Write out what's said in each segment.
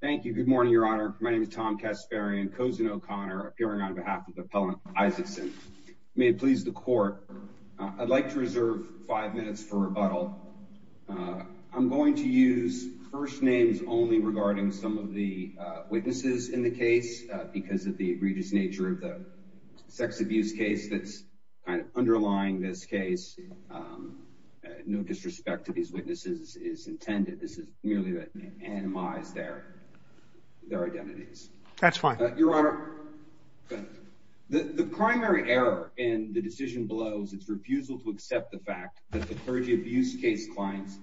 Thank you. Good morning, Your Honor. My name is Tom Kasparian, Cosin O'Connor, appearing on behalf of the Appellant Isaacson. May it please the Court, I'd like to reserve five minutes for rebuttal. I'm going to use first names only regarding some of the witnesses in the case because of the egregious nature of the sex abuse case that's underlying this case. No disrespect to these witnesses is intended. This is merely to anonymize their identities. That's fine. Your Honor, the primary error in the decision below is its refusal to accept the fact that the clergy abuse case clients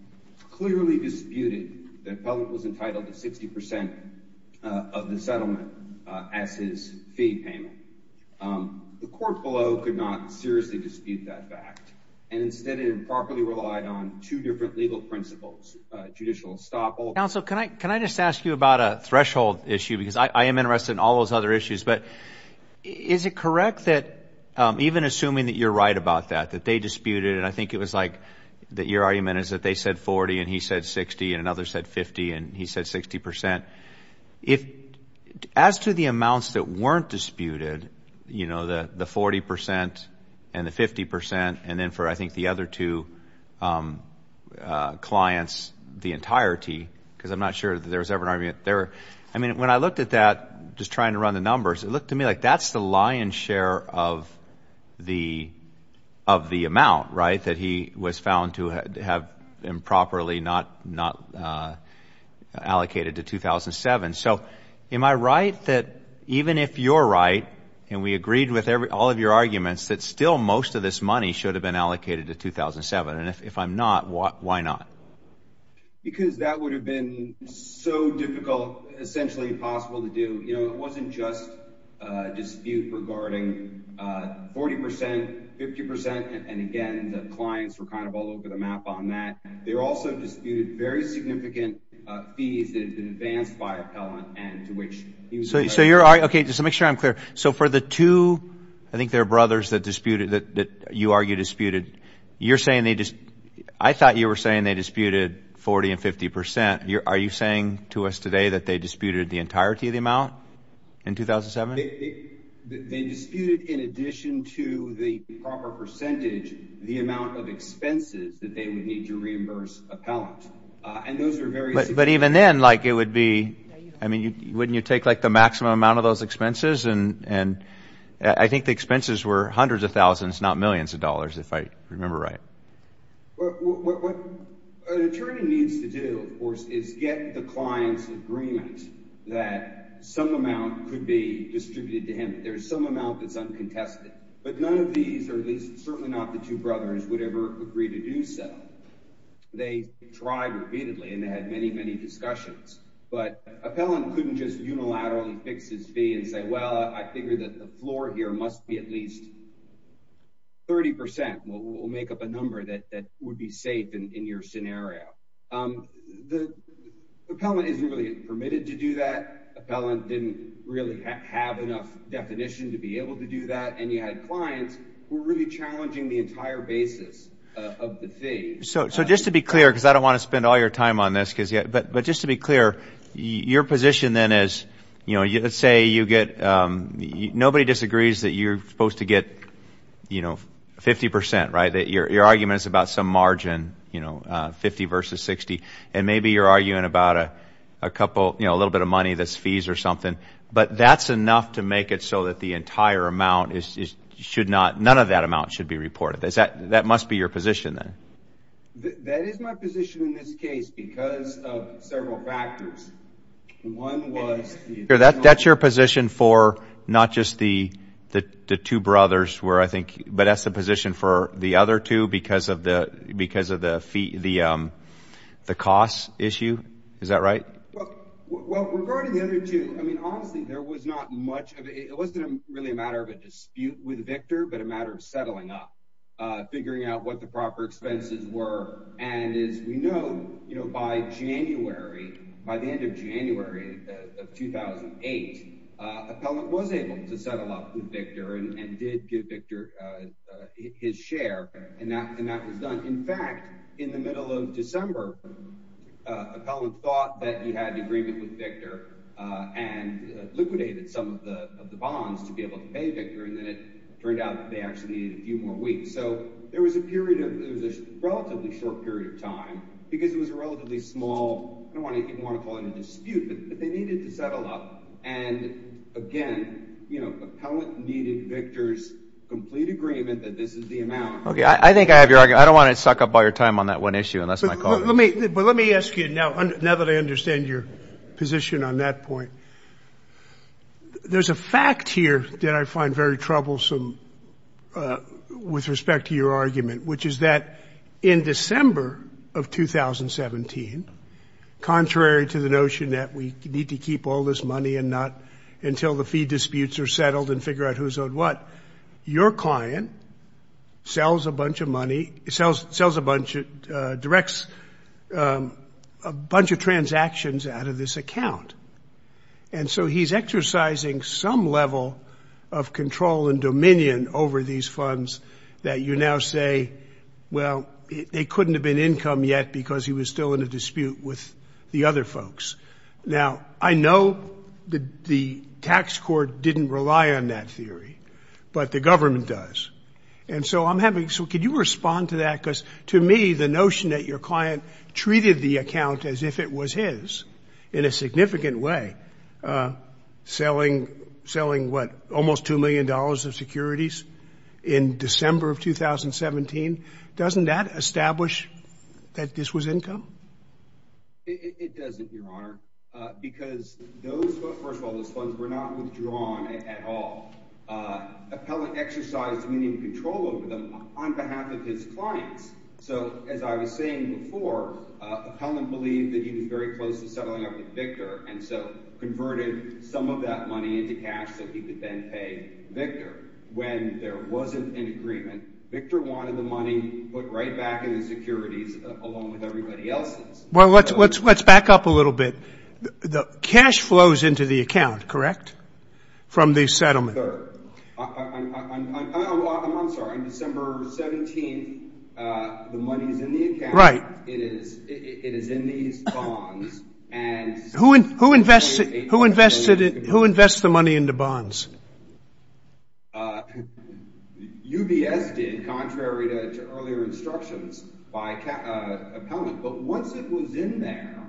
clearly disputed that Appellant was entitled to 60% of the settlement as his fee payment. The court below could not seriously dispute that fact and instead improperly relied on two different legal principles, judicial estoppel. Counsel, can I just ask you about a threshold issue because I am interested in all those other issues. But is it correct that even assuming that you're right about that, that they disputed and I think it was like that your argument is that they said 40 and he said 60 and another said 50 and he said 60%. As to the amounts that weren't disputed, you know, the 40% and the 50% and then for I think the other two clients the entirety because I'm not sure that there was ever an argument. So am I right that even if you're right and we agreed with all of your arguments that still most of this money should have been allocated to 2007 and if I'm not, why not? Because that would have been so difficult, essentially impossible to do. You know, it wasn't just a dispute regarding 40%, 50% and again, the clients were kind of all over the map on that. They also disputed very significant fees that have been advanced by Appellant and to which he was. So you're okay, just to make sure I'm clear. So for the two, I think they're brothers that disputed that you argue disputed, you're saying they just I thought you were saying they disputed 40 and 50%. Are you saying to us today that they disputed the entirety of the amount in 2007? They disputed in addition to the proper percentage, the amount of expenses that they would need to reimburse Appellant and those are very. But even then, like it would be. I mean, wouldn't you take like the maximum amount of those expenses? And I think the expenses were hundreds of thousands, not millions of dollars, if I remember right. What an attorney needs to do, of course, is get the client's agreement that some amount could be distributed to him. There's some amount that's uncontested, but none of these or at least certainly not the two brothers would ever agree to do so. They tried repeatedly and they had many, many discussions, but Appellant couldn't just unilaterally fix his fee and say, well, I figure that the floor here must be at least. Thirty percent will make up a number that would be safe in your scenario. The appellant isn't really permitted to do that. Appellant didn't really have enough definition to be able to do that. And you had clients who were really challenging the entire basis of the thing. So just to be clear, because I don't want to spend all your time on this, but just to be clear, your position then is, you know, 50 percent, right, that your argument is about some margin, you know, 50 versus 60, and maybe you're arguing about a couple, you know, a little bit of money that's fees or something, but that's enough to make it so that the entire amount should not, none of that amount should be reported. That must be your position then. That is my position in this case because of several factors. That's your position for not just the two brothers where I think, but that's the position for the other two because of the cost issue. Is that right? Well, regarding the other two, I mean, honestly, there was not much of it. It wasn't really a matter of a dispute with Victor, but a matter of settling up, figuring out what the proper expenses were. And as we know, you know, by January, by the end of January of 2008, Appellant was able to settle up with Victor and did give Victor his share, and that was done. In fact, in the middle of December, Appellant thought that he had an agreement with Victor and liquidated some of the bonds to be able to pay Victor, and then it turned out that they actually needed a few more weeks. So there was a period of, it was a relatively short period of time because it was a relatively small, I don't want to even want to call it a dispute, but they needed to settle up. And again, you know, Appellant needed Victor's complete agreement that this is the amount. Okay. I think I have your argument. I don't want to suck up all your time on that one issue, and that's my call. But let me ask you now, now that I understand your position on that point. There's a fact here that I find very troublesome with respect to your argument, which is that in December of 2017, contrary to the notion that we need to keep all this money and not until the fee disputes are settled and figure out who's owed what, your client sells a bunch of money, directs a bunch of transactions out of this account. And so he's exercising some level of control and dominion over these funds that you now say, well, they couldn't have been income yet because he was still in a dispute with the other folks. Now, I know the tax court didn't rely on that theory, but the government does. And so I'm having, so could you respond to that? Because to me, the notion that your client treated the account as if it was his in a significant way, selling what, almost $2 million of securities in December of 2017, doesn't that establish that this was income? It doesn't, Your Honor, because those, first of all, those funds were not withdrawn at all. Appellant exercised dominion and control over them on behalf of his clients. So as I was saying before, Appellant believed that he was very close to settling up with Victor and so converted some of that money into cash so he could then pay Victor. When there wasn't an agreement, Victor wanted the money put right back in the securities along with everybody else's. Well, let's back up a little bit. The cash flows into the account, correct, from the settlement? I'm sorry. On December 17th, the money is in the account. Right. It is in these bonds. Who invests the money into bonds? UBS did, contrary to earlier instructions of Appellant. But once it was in there,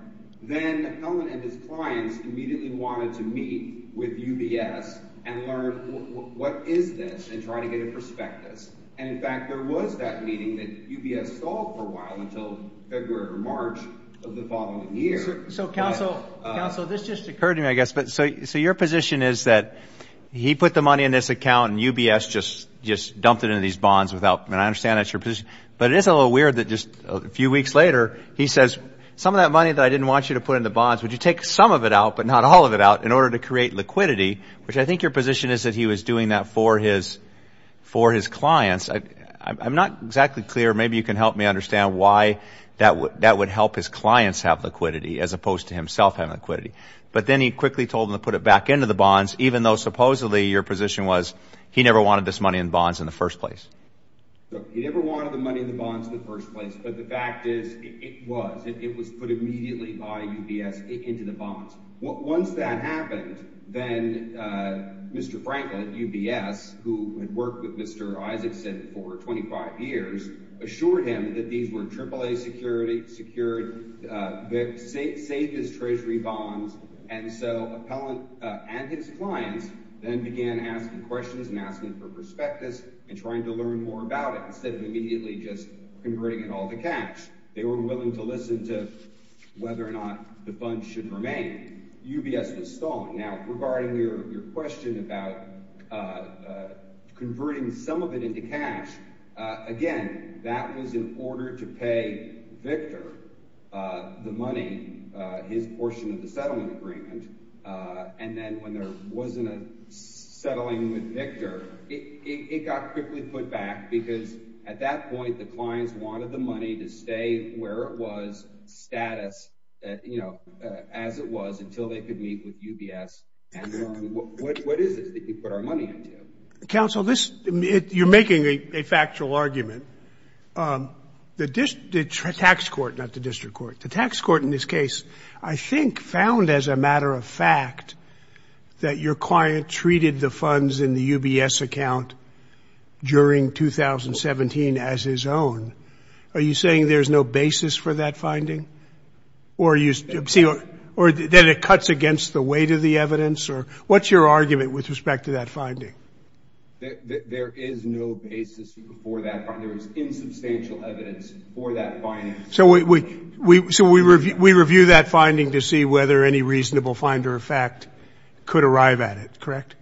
then Appellant and his clients immediately wanted to meet with UBS and learn what is this and try to get a prospectus. In fact, there was that meeting that UBS stalled for a while until February or March of the following year. So, Counsel, this just occurred to me, I guess. So your position is that he put the money in this account and UBS just dumped it into these bonds. And I understand that's your position. But it is a little weird that just a few weeks later he says, some of that money that I didn't want you to put into bonds, would you take some of it out, but not all of it out, in order to create liquidity, which I think your position is that he was doing that for his clients. I'm not exactly clear. Maybe you can help me understand why that would help his clients have liquidity as opposed to himself having liquidity. But then he quickly told them to put it back into the bonds, even though supposedly your position was he never wanted this money in bonds in the first place. He never wanted the money in the bonds in the first place. But the fact is, it was. It was put immediately by UBS into the bonds. Once that happened, then Mr. Franklin at UBS, who had worked with Mr. Isaacson for 25 years, assured him that these were AAA secured, saved his treasury bonds. And so Appellant and his clients then began asking questions and asking for prospectus and trying to learn more about it, instead of immediately just converting it all to cash. They were willing to listen to whether or not the bonds should remain. UBS was stalling. Now, regarding your question about converting some of it into cash, again, that was in order to pay Victor the money, his portion of the settlement agreement. And then when there wasn't a settling with Victor, it got quickly put back, because at that point the clients wanted the money to stay where it was, status, as it was, until they could meet with UBS. What is it that you put our money into? Counsel, you're making a factual argument. The tax court, not the district court, the tax court in this case I think found as a matter of fact that your client treated the funds in the UBS account during 2017 as his own. Are you saying there's no basis for that finding? Or that it cuts against the weight of the evidence? What's your argument with respect to that finding? There is no basis for that finding. So we review that finding to see whether any reasonable find or effect could arrive at it, correct?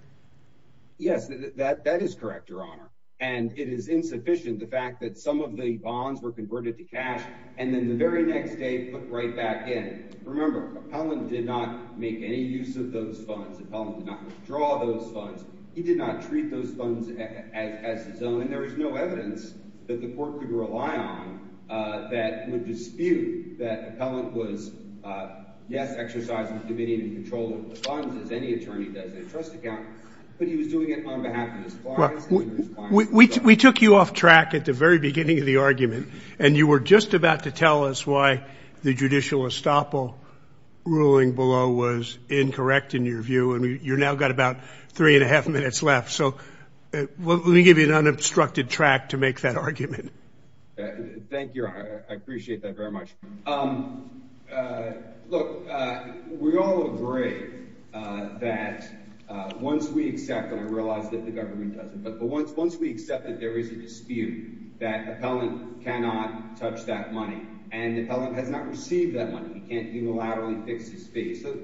Yes, that is correct, Your Honor. And it is insufficient, the fact that some of the bonds were converted to cash and then the very next day put right back in. Remember, Appellant did not make any use of those funds. Appellant did not withdraw those funds. He did not treat those funds as his own. And there is no evidence that the court could rely on that would dispute that Appellant was, yes, exercising the dominion and control of the funds, as any attorney does in a trust account, but he was doing it on behalf of his clients. We took you off track at the very beginning of the argument, and you were just about to tell us why the judicial estoppel ruling below was incorrect in your view, and you've now got about three and a half minutes left. So let me give you an unobstructed track to make that argument. Thank you, Your Honor. I appreciate that very much. Look, we all agree that once we accept, and I realize that the government doesn't, but once we accept that there is a dispute that Appellant cannot touch that money and Appellant has not received that money, he can't unilaterally fix his fee. So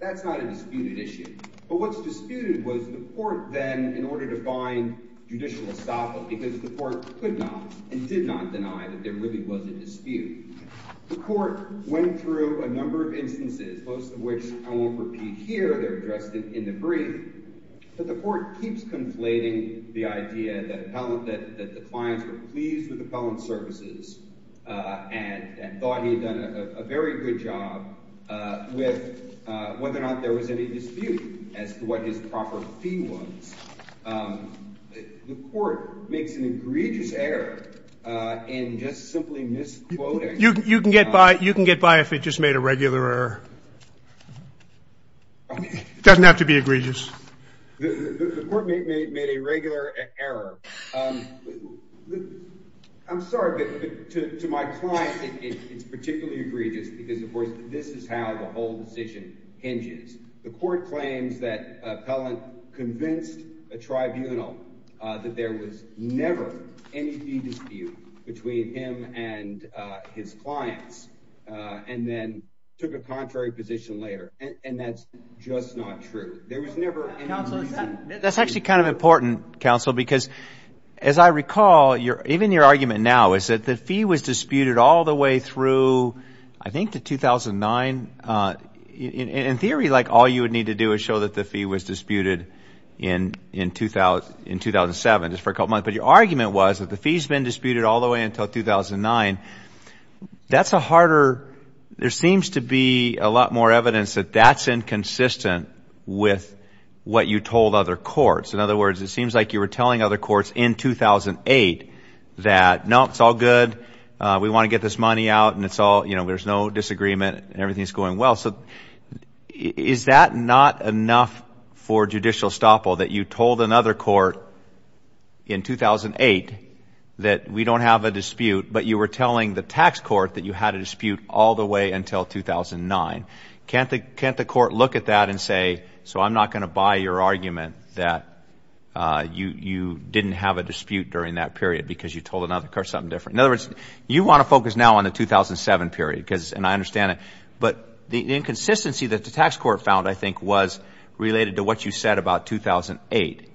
that's not a disputed issue. But what's disputed was the court then, in order to find judicial estoppel, because the court could not and did not deny that there really was a dispute, the court went through a number of instances, most of which I won't repeat here. They're addressed in the brief. But the court keeps conflating the idea that the clients were pleased with Appellant Services and thought he had done a very good job with whether or not there was any dispute as to what his proper fee was. The court makes an egregious error in just simply misquoting. You can get by if it just made a regular error. It doesn't have to be egregious. The court made a regular error. I'm sorry, but to my client, it's particularly egregious because, of course, this is how the whole decision hinges. The court claims that Appellant convinced a tribunal that there was never any fee dispute between him and his clients and then took a contrary position later. And that's just not true. That's actually kind of important, counsel, because as I recall, even your argument now is that the fee was disputed all the way through, I think, to 2009. In theory, like, all you would need to do is show that the fee was disputed in 2007, just for a couple of months. But your argument was that the fee's been disputed all the way until 2009. That's a harder, there seems to be a lot more evidence that that's inconsistent with what you told other courts. In other words, it seems like you were telling other courts in 2008 that, no, it's all good, we want to get this money out and it's all, you know, there's no disagreement and everything's going well. So is that not enough for judicial estoppel, that you told another court in 2008 that we don't have a dispute, but you were telling the tax court that you had a dispute all the way until 2009? Can't the court look at that and say, so I'm not going to buy your argument that you didn't have a dispute during that period because you told another court something different? In other words, you want to focus now on the 2007 period, and I understand it. But the inconsistency that the tax court found, I think, was related to what you said about 2008,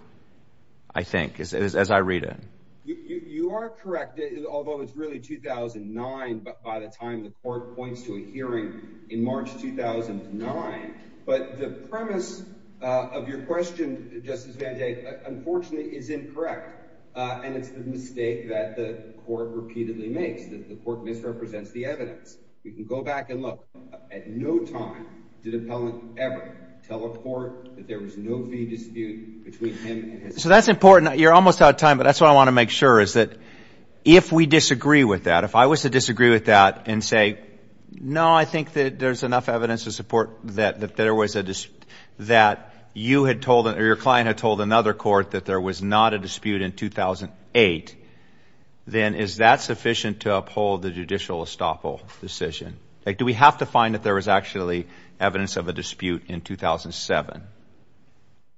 I think, as I read it. You are correct, although it's really 2009 by the time the court points to a hearing in March 2009. But the premise of your question, Justice VanJay, unfortunately is incorrect, and it's the mistake that the court repeatedly makes, that the court misrepresents the evidence. We can go back and look. At no time did appellant ever tell a court that there was no fee dispute between him and his client. So that's important. You're almost out of time, but that's what I want to make sure, is that if we disagree with that, if I was to disagree with that and say, no, I think that there's enough evidence to support that there was a dispute, that you had told or your client had told another court that there was not a dispute in 2008, then is that sufficient to uphold the judicial estoppel decision? Do we have to find that there was actually evidence of a dispute in 2007?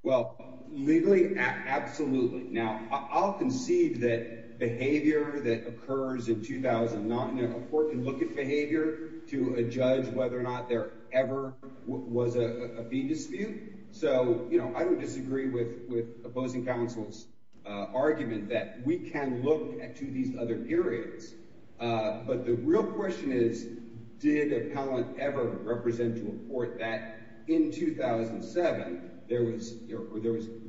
Well, legally, absolutely. Now, I'll concede that behavior that occurs in 2009, a court can look at behavior to judge whether or not there ever was a fee dispute. So, you know, I would disagree with opposing counsel's argument that we can look at two of these other periods. But the real question is, did appellant ever represent to a court that in 2007 there was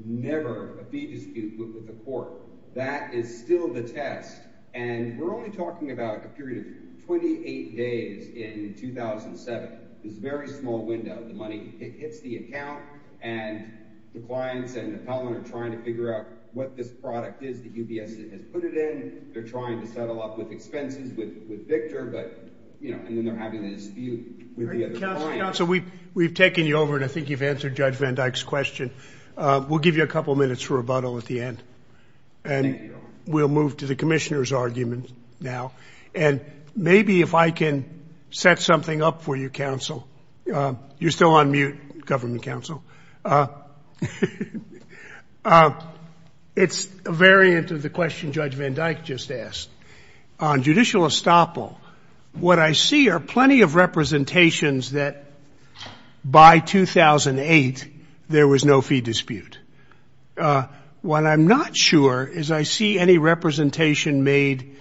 never a fee dispute with the court? That is still the test, and we're only talking about a period of 28 days in 2007. It's a very small window. The money hits the account, and the clients and appellant are trying to figure out what this product is that UBS has put it in. They're trying to settle up with expenses with Victor, but, you know, and then they're having a dispute with the other clients. Counsel, we've taken you over, and I think you've answered Judge Van Dyke's question. We'll give you a couple minutes for rebuttal at the end, and we'll move to the commissioner's argument now. And maybe if I can set something up for you, counsel. You're still on mute, government counsel. It's a variant of the question Judge Van Dyke just asked. On judicial estoppel, what I see are plenty of representations that by 2008 there was no fee dispute. What I'm not sure is I see any representation made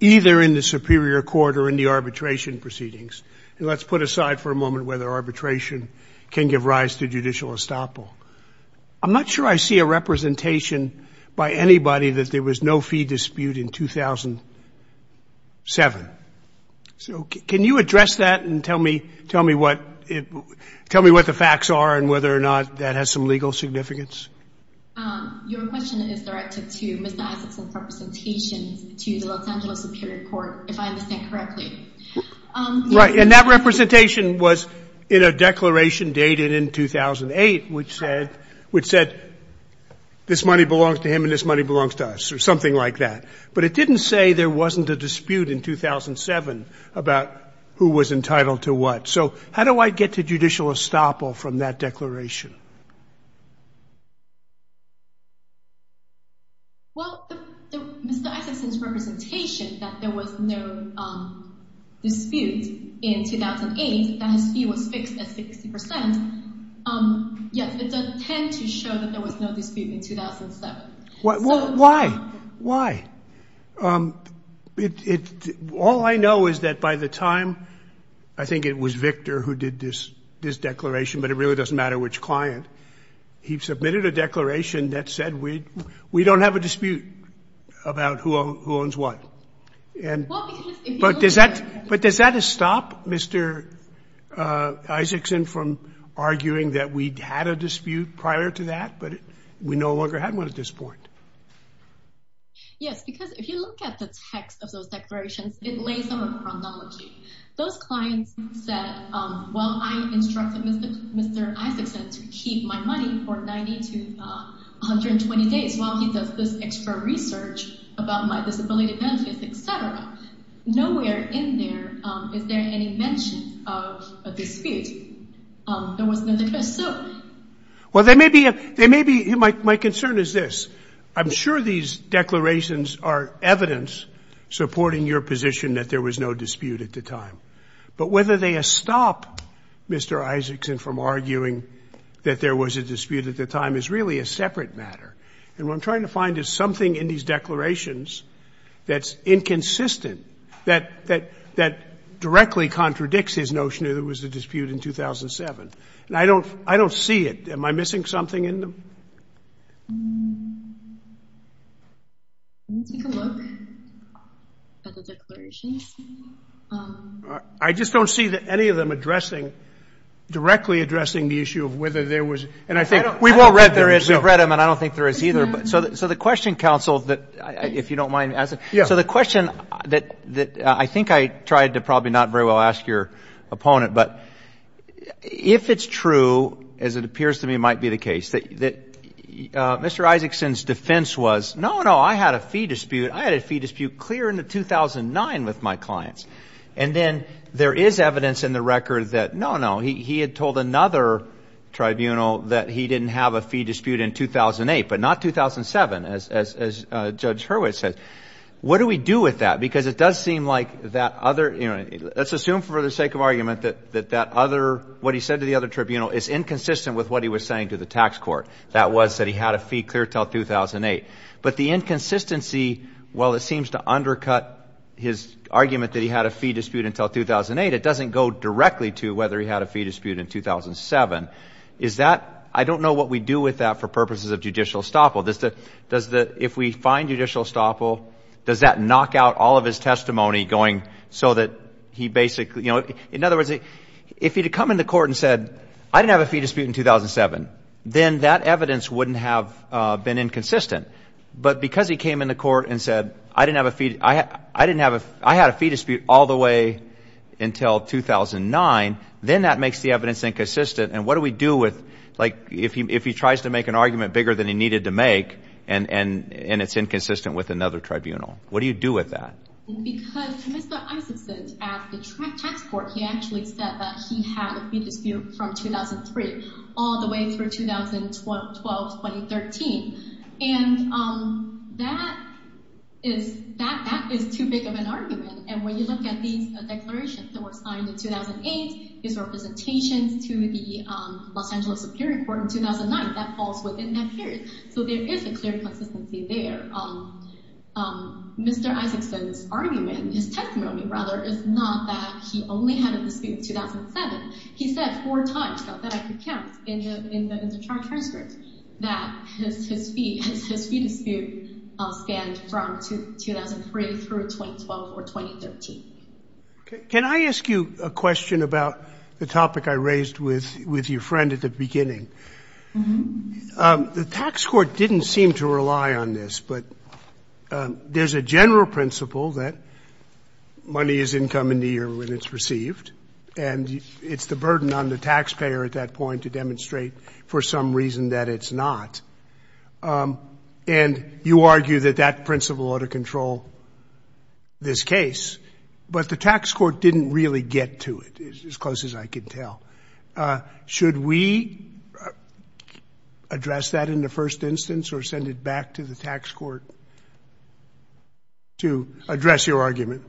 either in the superior court or in the arbitration proceedings. And let's put aside for a moment whether arbitration can give rise to judicial estoppel. I'm not sure I see a representation by anybody that there was no fee dispute in 2007. So can you address that and tell me what the facts are and whether or not that has some legal significance? Your question is directed to Mr. Isakson's representations to the Los Angeles Superior Court, if I understand correctly. Right. And that representation was in a declaration dated in 2008, which said this money belongs to him and this money belongs to us, or something like that. But it didn't say there wasn't a dispute in 2007 about who was entitled to what. So how do I get to judicial estoppel from that declaration? Well, Mr. Isakson's representation that there was no dispute in 2008, that his fee was fixed at 60 percent. Yes, it does tend to show that there was no dispute in 2007. Well, why? Why? All I know is that by the time, I think it was Victor who did this declaration, but it really doesn't matter which client, he submitted a declaration that said we don't have a dispute about who owns what. And does that stop Mr. Isakson from arguing that we had a dispute prior to that, but we no longer had one at this point? Yes, because if you look at the text of those declarations, it lays out a chronology. Those clients said, well, I instructed Mr. Isakson to keep my money for 90 to 120 days while he does this extra research about my disability benefits, et cetera. Nowhere in there is there any mention of a dispute. There was no dispute. Well, there may be. There may be. My concern is this. I'm sure these declarations are evidence supporting your position that there was no dispute at the time, but whether they stop Mr. Isakson from arguing that there was a dispute at the time is really a separate matter. And what I'm trying to find is something in these declarations that's inconsistent, that directly contradicts his notion that there was a dispute in 2007. And I don't see it. Am I missing something in them? Let me take a look at the declarations. I just don't see any of them addressing, directly addressing the issue of whether there was. And I think we've all read them. We've read them, and I don't think there is either. So the question, counsel, if you don't mind, so the question that I think I tried to probably not very well ask your opponent, but if it's true, as it appears to me might be the case, that Mr. Isaacson's defense was, no, no, I had a fee dispute. I had a fee dispute clear into 2009 with my clients. And then there is evidence in the record that, no, no, he had told another tribunal that he didn't have a fee dispute in 2008, but not 2007, as Judge Hurwitz said. What do we do with that? Because it does seem like that other, you know, let's assume for the sake of argument that that other, what he said to the other tribunal is inconsistent with what he was saying to the tax court, that was that he had a fee clear until 2008. But the inconsistency, while it seems to undercut his argument that he had a fee dispute until 2008, it doesn't go directly to whether he had a fee dispute in 2007. Is that, I don't know what we do with that for purposes of judicial estoppel. If we find judicial estoppel, does that knock out all of his testimony going so that he basically, you know, in other words, if he had come into court and said, I didn't have a fee dispute in 2007, then that evidence wouldn't have been inconsistent. But because he came into court and said, I didn't have a fee, I had a fee dispute all the way until 2009, then that makes the evidence inconsistent. And what do we do with, like, if he tries to make an argument bigger than he needed to make and it's inconsistent with another tribunal, what do you do with that? Because Mr. Isakson at the tax court, he actually said that he had a fee dispute from 2003 all the way through 2012, 2013. And that is too big of an argument. And when you look at these declarations that were signed in 2008, his representations to the Los Angeles Superior Court in 2009, that falls within that period. So there is a clear consistency there. Mr. Isakson's argument, his testimony, rather, is not that he only had a dispute in 2007. He said four times, though, that I could count in the transcript, that his fee dispute spanned from 2003 through 2012 or 2013. Can I ask you a question about the topic I raised with your friend at the beginning? The tax court didn't seem to rely on this, but there's a general principle that money is income in the year when it's received, and it's the burden on the taxpayer at that point to demonstrate for some reason that it's not. And you argue that that principle ought to control this case, but the tax court didn't really get to it, as close as I could tell. Should we address that in the first instance or send it back to the tax court to address your argument?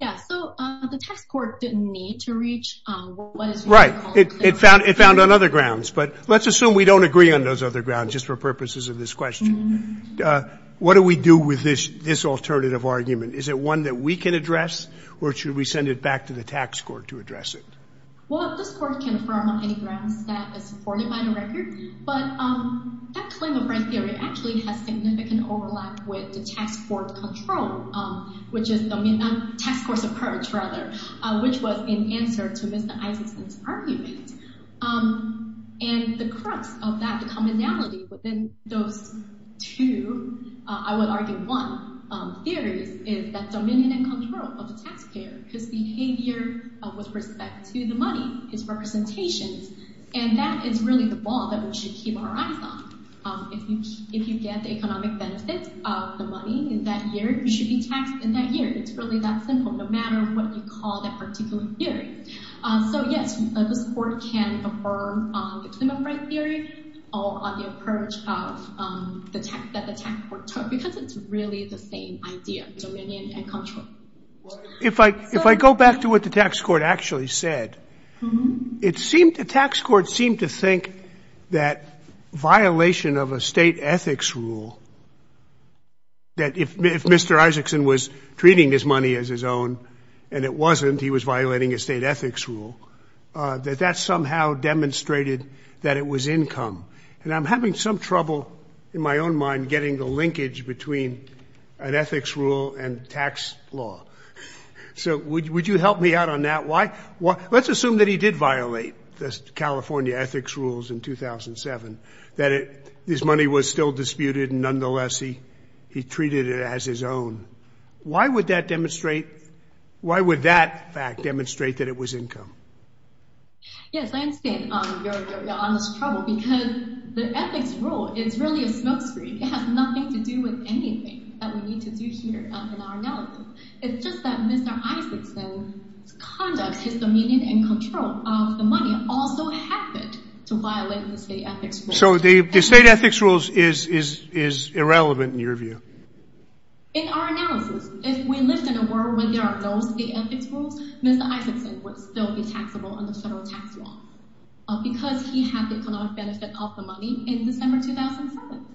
Yeah, so the tax court didn't need to reach what is right. It found on other grounds, but let's assume we don't agree on those other grounds just for purposes of this question. What do we do with this alternative argument? Is it one that we can address, or should we send it back to the tax court to address it? Well, this court can affirm on any grounds that it's supported by the record, but that claim of right theory actually has significant overlap with the tax court control, which is the tax court's approach, rather, which was in answer to Mr. Isaacson's argument. And the crux of that commonality within those two, I would argue, one, theories is that dominion and control of the taxpayer, his behavior with respect to the money, his representations, and that is really the ball that we should keep our eyes on. If you get the economic benefits of the money in that year, you should be taxed in that year. It's really that simple, no matter what you call that particular theory. So, yes, this court can affirm on the claim of right theory or on the approach that the tax court took because it's really the same idea, dominion and control. If I go back to what the tax court actually said, it seemed the tax court seemed to think that violation of a state ethics rule, that if Mr. Isaacson was treating his money as his own and it wasn't, he was violating a state ethics rule, that that somehow demonstrated that it was income. And I'm having some trouble in my own mind getting the linkage between an ethics rule and tax law. So would you help me out on that? Let's assume that he did violate the California ethics rules in 2007, that his money was still disputed. Nonetheless, he treated it as his own. Why would that fact demonstrate that it was income? Yes, I understand your honest trouble because the ethics rule is really a smokescreen. It has nothing to do with anything that we need to do here in our analysis. It's just that Mr. Isaacson's conduct, his dominion and control of the money also happened to violate the state ethics rule. So the state ethics rule is irrelevant in your view? In our analysis, if we lived in a world where there are no state ethics rules, Mr. Isaacson would still be taxable under federal tax law because he had the economic benefit of the money in December 2007.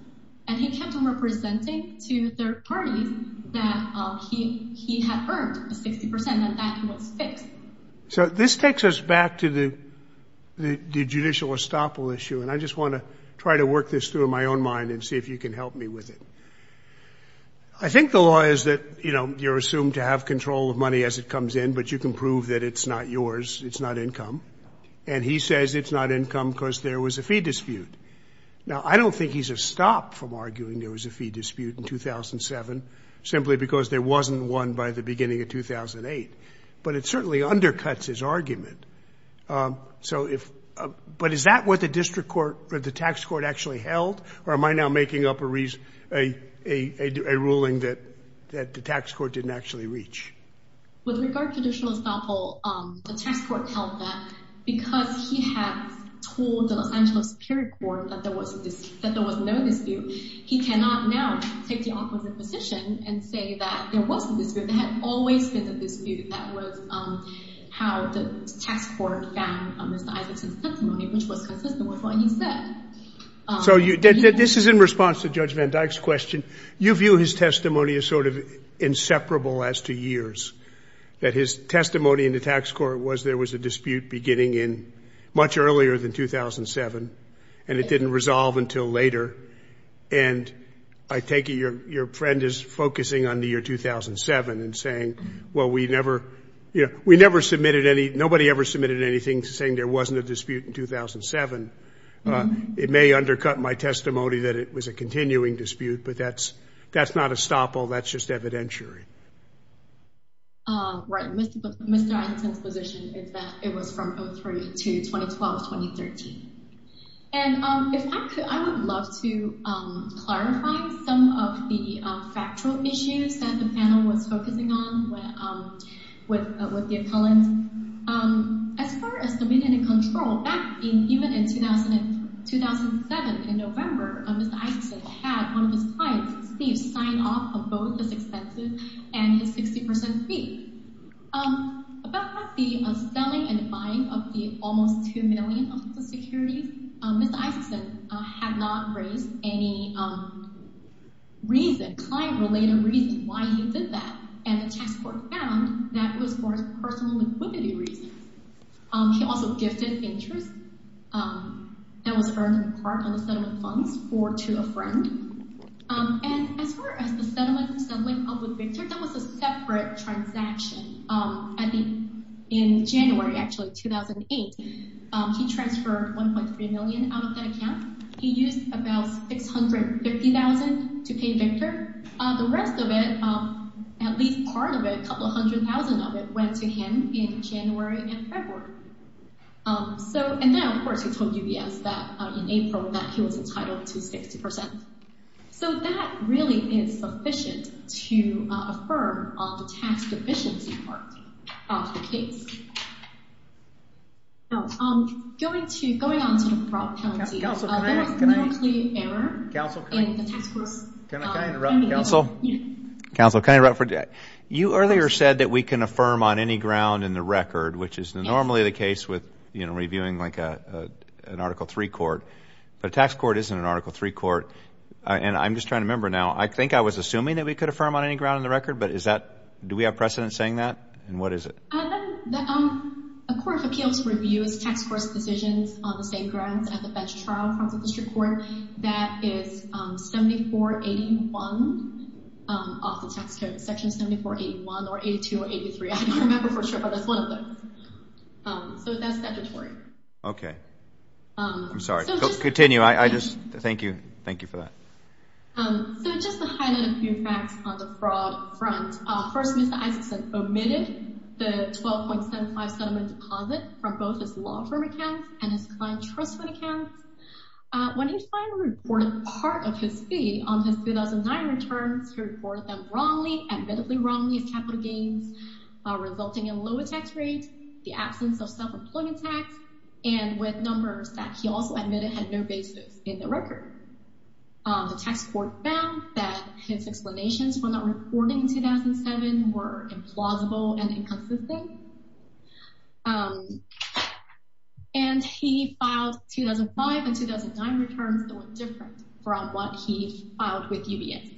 And he kept on representing to third parties that he had earned 60 percent and that was fixed. So this takes us back to the judicial estoppel issue. And I just want to try to work this through in my own mind and see if you can help me with it. I think the law is that, you know, you're assumed to have control of money as it comes in, but you can prove that it's not yours. It's not income. And he says it's not income because there was a fee dispute. Now, I don't think he's a stop from arguing there was a fee dispute in 2007 simply because there wasn't one by the beginning of 2008. But it certainly undercuts his argument. But is that what the district court or the tax court actually held? Or am I now making up a ruling that the tax court didn't actually reach? With regard to judicial estoppel, the tax court held that because he had told the Los Angeles Superior Court that there was no dispute, he cannot now take the opposite position and say that there was a dispute. There had always been a dispute. That was how the tax court found Mr. Isaacson's testimony, which was consistent with what he said. So this is in response to Judge Van Dyck's question. You view his testimony as sort of inseparable as to years, that his testimony in the tax court was there was a dispute beginning in much earlier than 2007. And it didn't resolve until later. And I take it your friend is focusing on the year 2007 and saying, well, we never submitted any. Nobody ever submitted anything saying there wasn't a dispute in 2007. It may undercut my testimony that it was a continuing dispute, but that's not estoppel. That's just evidentiary. Right. Mr. Isaacson's position is that it was from 2003 to 2012, 2013. And if I could, I would love to clarify some of the factual issues that the panel was focusing on with the accountants. As far as dominion and control, even in 2007, in November, Mr. Isaacson had one of his clients, Steve, sign off on both his expenses and his 60 percent fee. About the selling and buying of the almost two million of the securities, Mr. Isaacson had not raised any reason, client-related reason, why he did that. And the tax court found that it was for personal liquidity reasons. He also gifted interest that was earned in part on the settlement funds to a friend. And as far as the settlement with Victor, that was a separate transaction. In January, actually, 2008, he transferred $1.3 million out of that account. He used about $650,000 to pay Victor. The rest of it, at least part of it, a couple of hundred thousand of it, went to him in January and February. And then, of course, he told UBS that in April that he was entitled to 60 percent. So that really is sufficient to affirm on the tax deficiency part of the case. Going on to the fraud penalty, there was no clear error in the tax court's finding. Counsel? Counsel, can I interrupt for a second? You earlier said that we can affirm on any ground in the record, which is normally the case with, you know, reviewing like an Article III court. But a tax court isn't an Article III court. And I'm just trying to remember now. I think I was assuming that we could affirm on any ground in the record, but is that – do we have precedent saying that? And what is it? A court of appeals reviews tax court's decisions on the same grounds at the bench trial in front of the district court. That is 7481 of the tax code, Section 7481 or 8283. I don't remember for sure, but that's one of them. So that's statutory. Okay. I'm sorry. Continue. I just – thank you. Thank you for that. So just to highlight a few facts on the fraud front. First, Mr. Isakson omitted the 12.75 settlement deposit from both his law firm accounts and his client trust fund accounts. When he finally reported part of his fee on his 2009 returns, he reported them wrongly, admittedly wrongly as capital gains, resulting in low tax rates, the absence of self-employment tax, and with numbers that he also admitted had no basis in the record. The tax court found that his explanations for not reporting in 2007 were implausible and inconsistent. And he filed 2005 and 2009 returns that were different from what he filed with UBS.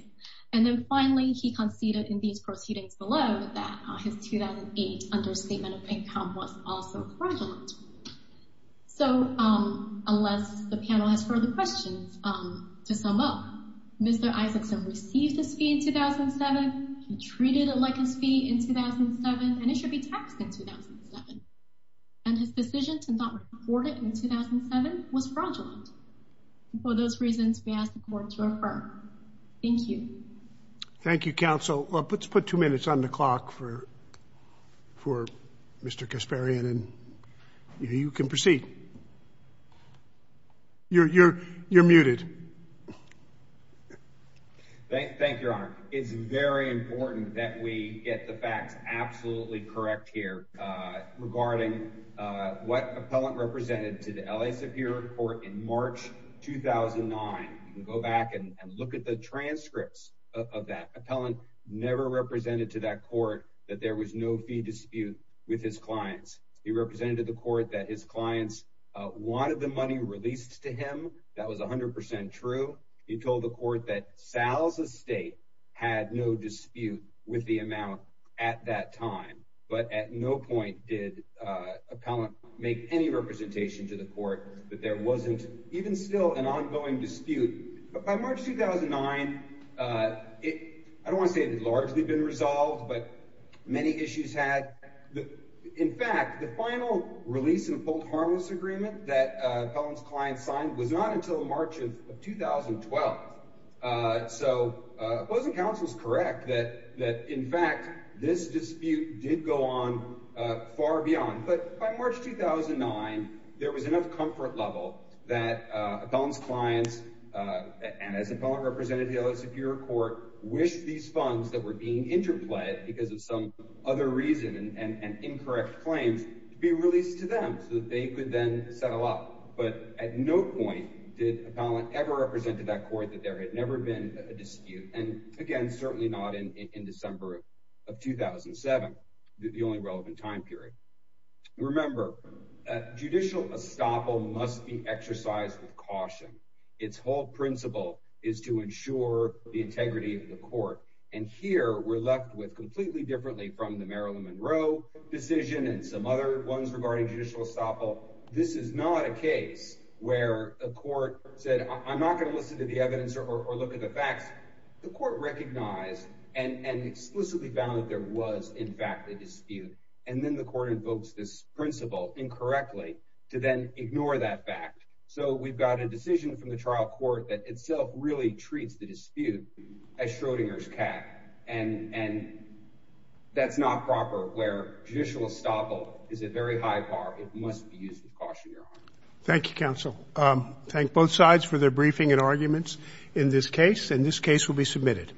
And then finally, he conceded in these proceedings below that his 2008 understatement of income was also fraudulent. So unless the panel has further questions, to sum up, Mr. Isakson received his fee in 2007. He treated it like his fee in 2007, and it should be taxed in 2007. And his decision to not report it in 2007 was fraudulent. For those reasons, we ask the court to refer. Thank you. Thank you, counsel. Let's put two minutes on the clock for Mr. Kasparian, and you can proceed. You're muted. Thank you, Your Honor. It's very important that we get the facts absolutely correct here regarding what appellant represented to the L.A. Superior Court in March 2009. You can go back and look at the transcripts of that. Appellant never represented to that court that there was no fee dispute with his clients. He represented to the court that his clients wanted the money released to him. That was 100% true. He told the court that Sal's estate had no dispute with the amount at that time. But at no point did appellant make any representation to the court that there wasn't even still an ongoing dispute. By March 2009, I don't want to say it had largely been resolved, but many issues had. In fact, the final release and hold harmless agreement that appellant's client signed was not until March of 2012. So opposing counsel is correct that, in fact, this dispute did go on far beyond. But by March 2009, there was enough comfort level that appellant's clients, and as appellant represented to the L.A. Superior Court, wished these funds that were being interplayed because of some other reason and incorrect claims to be released to them so that they could then settle up. But at no point did appellant ever represent to that court that there had never been a dispute. And again, certainly not in December of 2007, the only relevant time period. Remember, judicial estoppel must be exercised with caution. Its whole principle is to ensure the integrity of the court. And here we're left with completely differently from the Marilyn Monroe decision and some other ones regarding judicial estoppel. This is not a case where a court said, I'm not going to listen to the evidence or look at the facts. The court recognized and explicitly found that there was, in fact, a dispute. And then the court invokes this principle incorrectly to then ignore that fact. So we've got a decision from the trial court that itself really treats the dispute as Schrodinger's cat. And that's not proper where judicial estoppel is a very high bar. Thank you, counsel. Thank both sides for their briefing and arguments in this case. And this case will be submitted.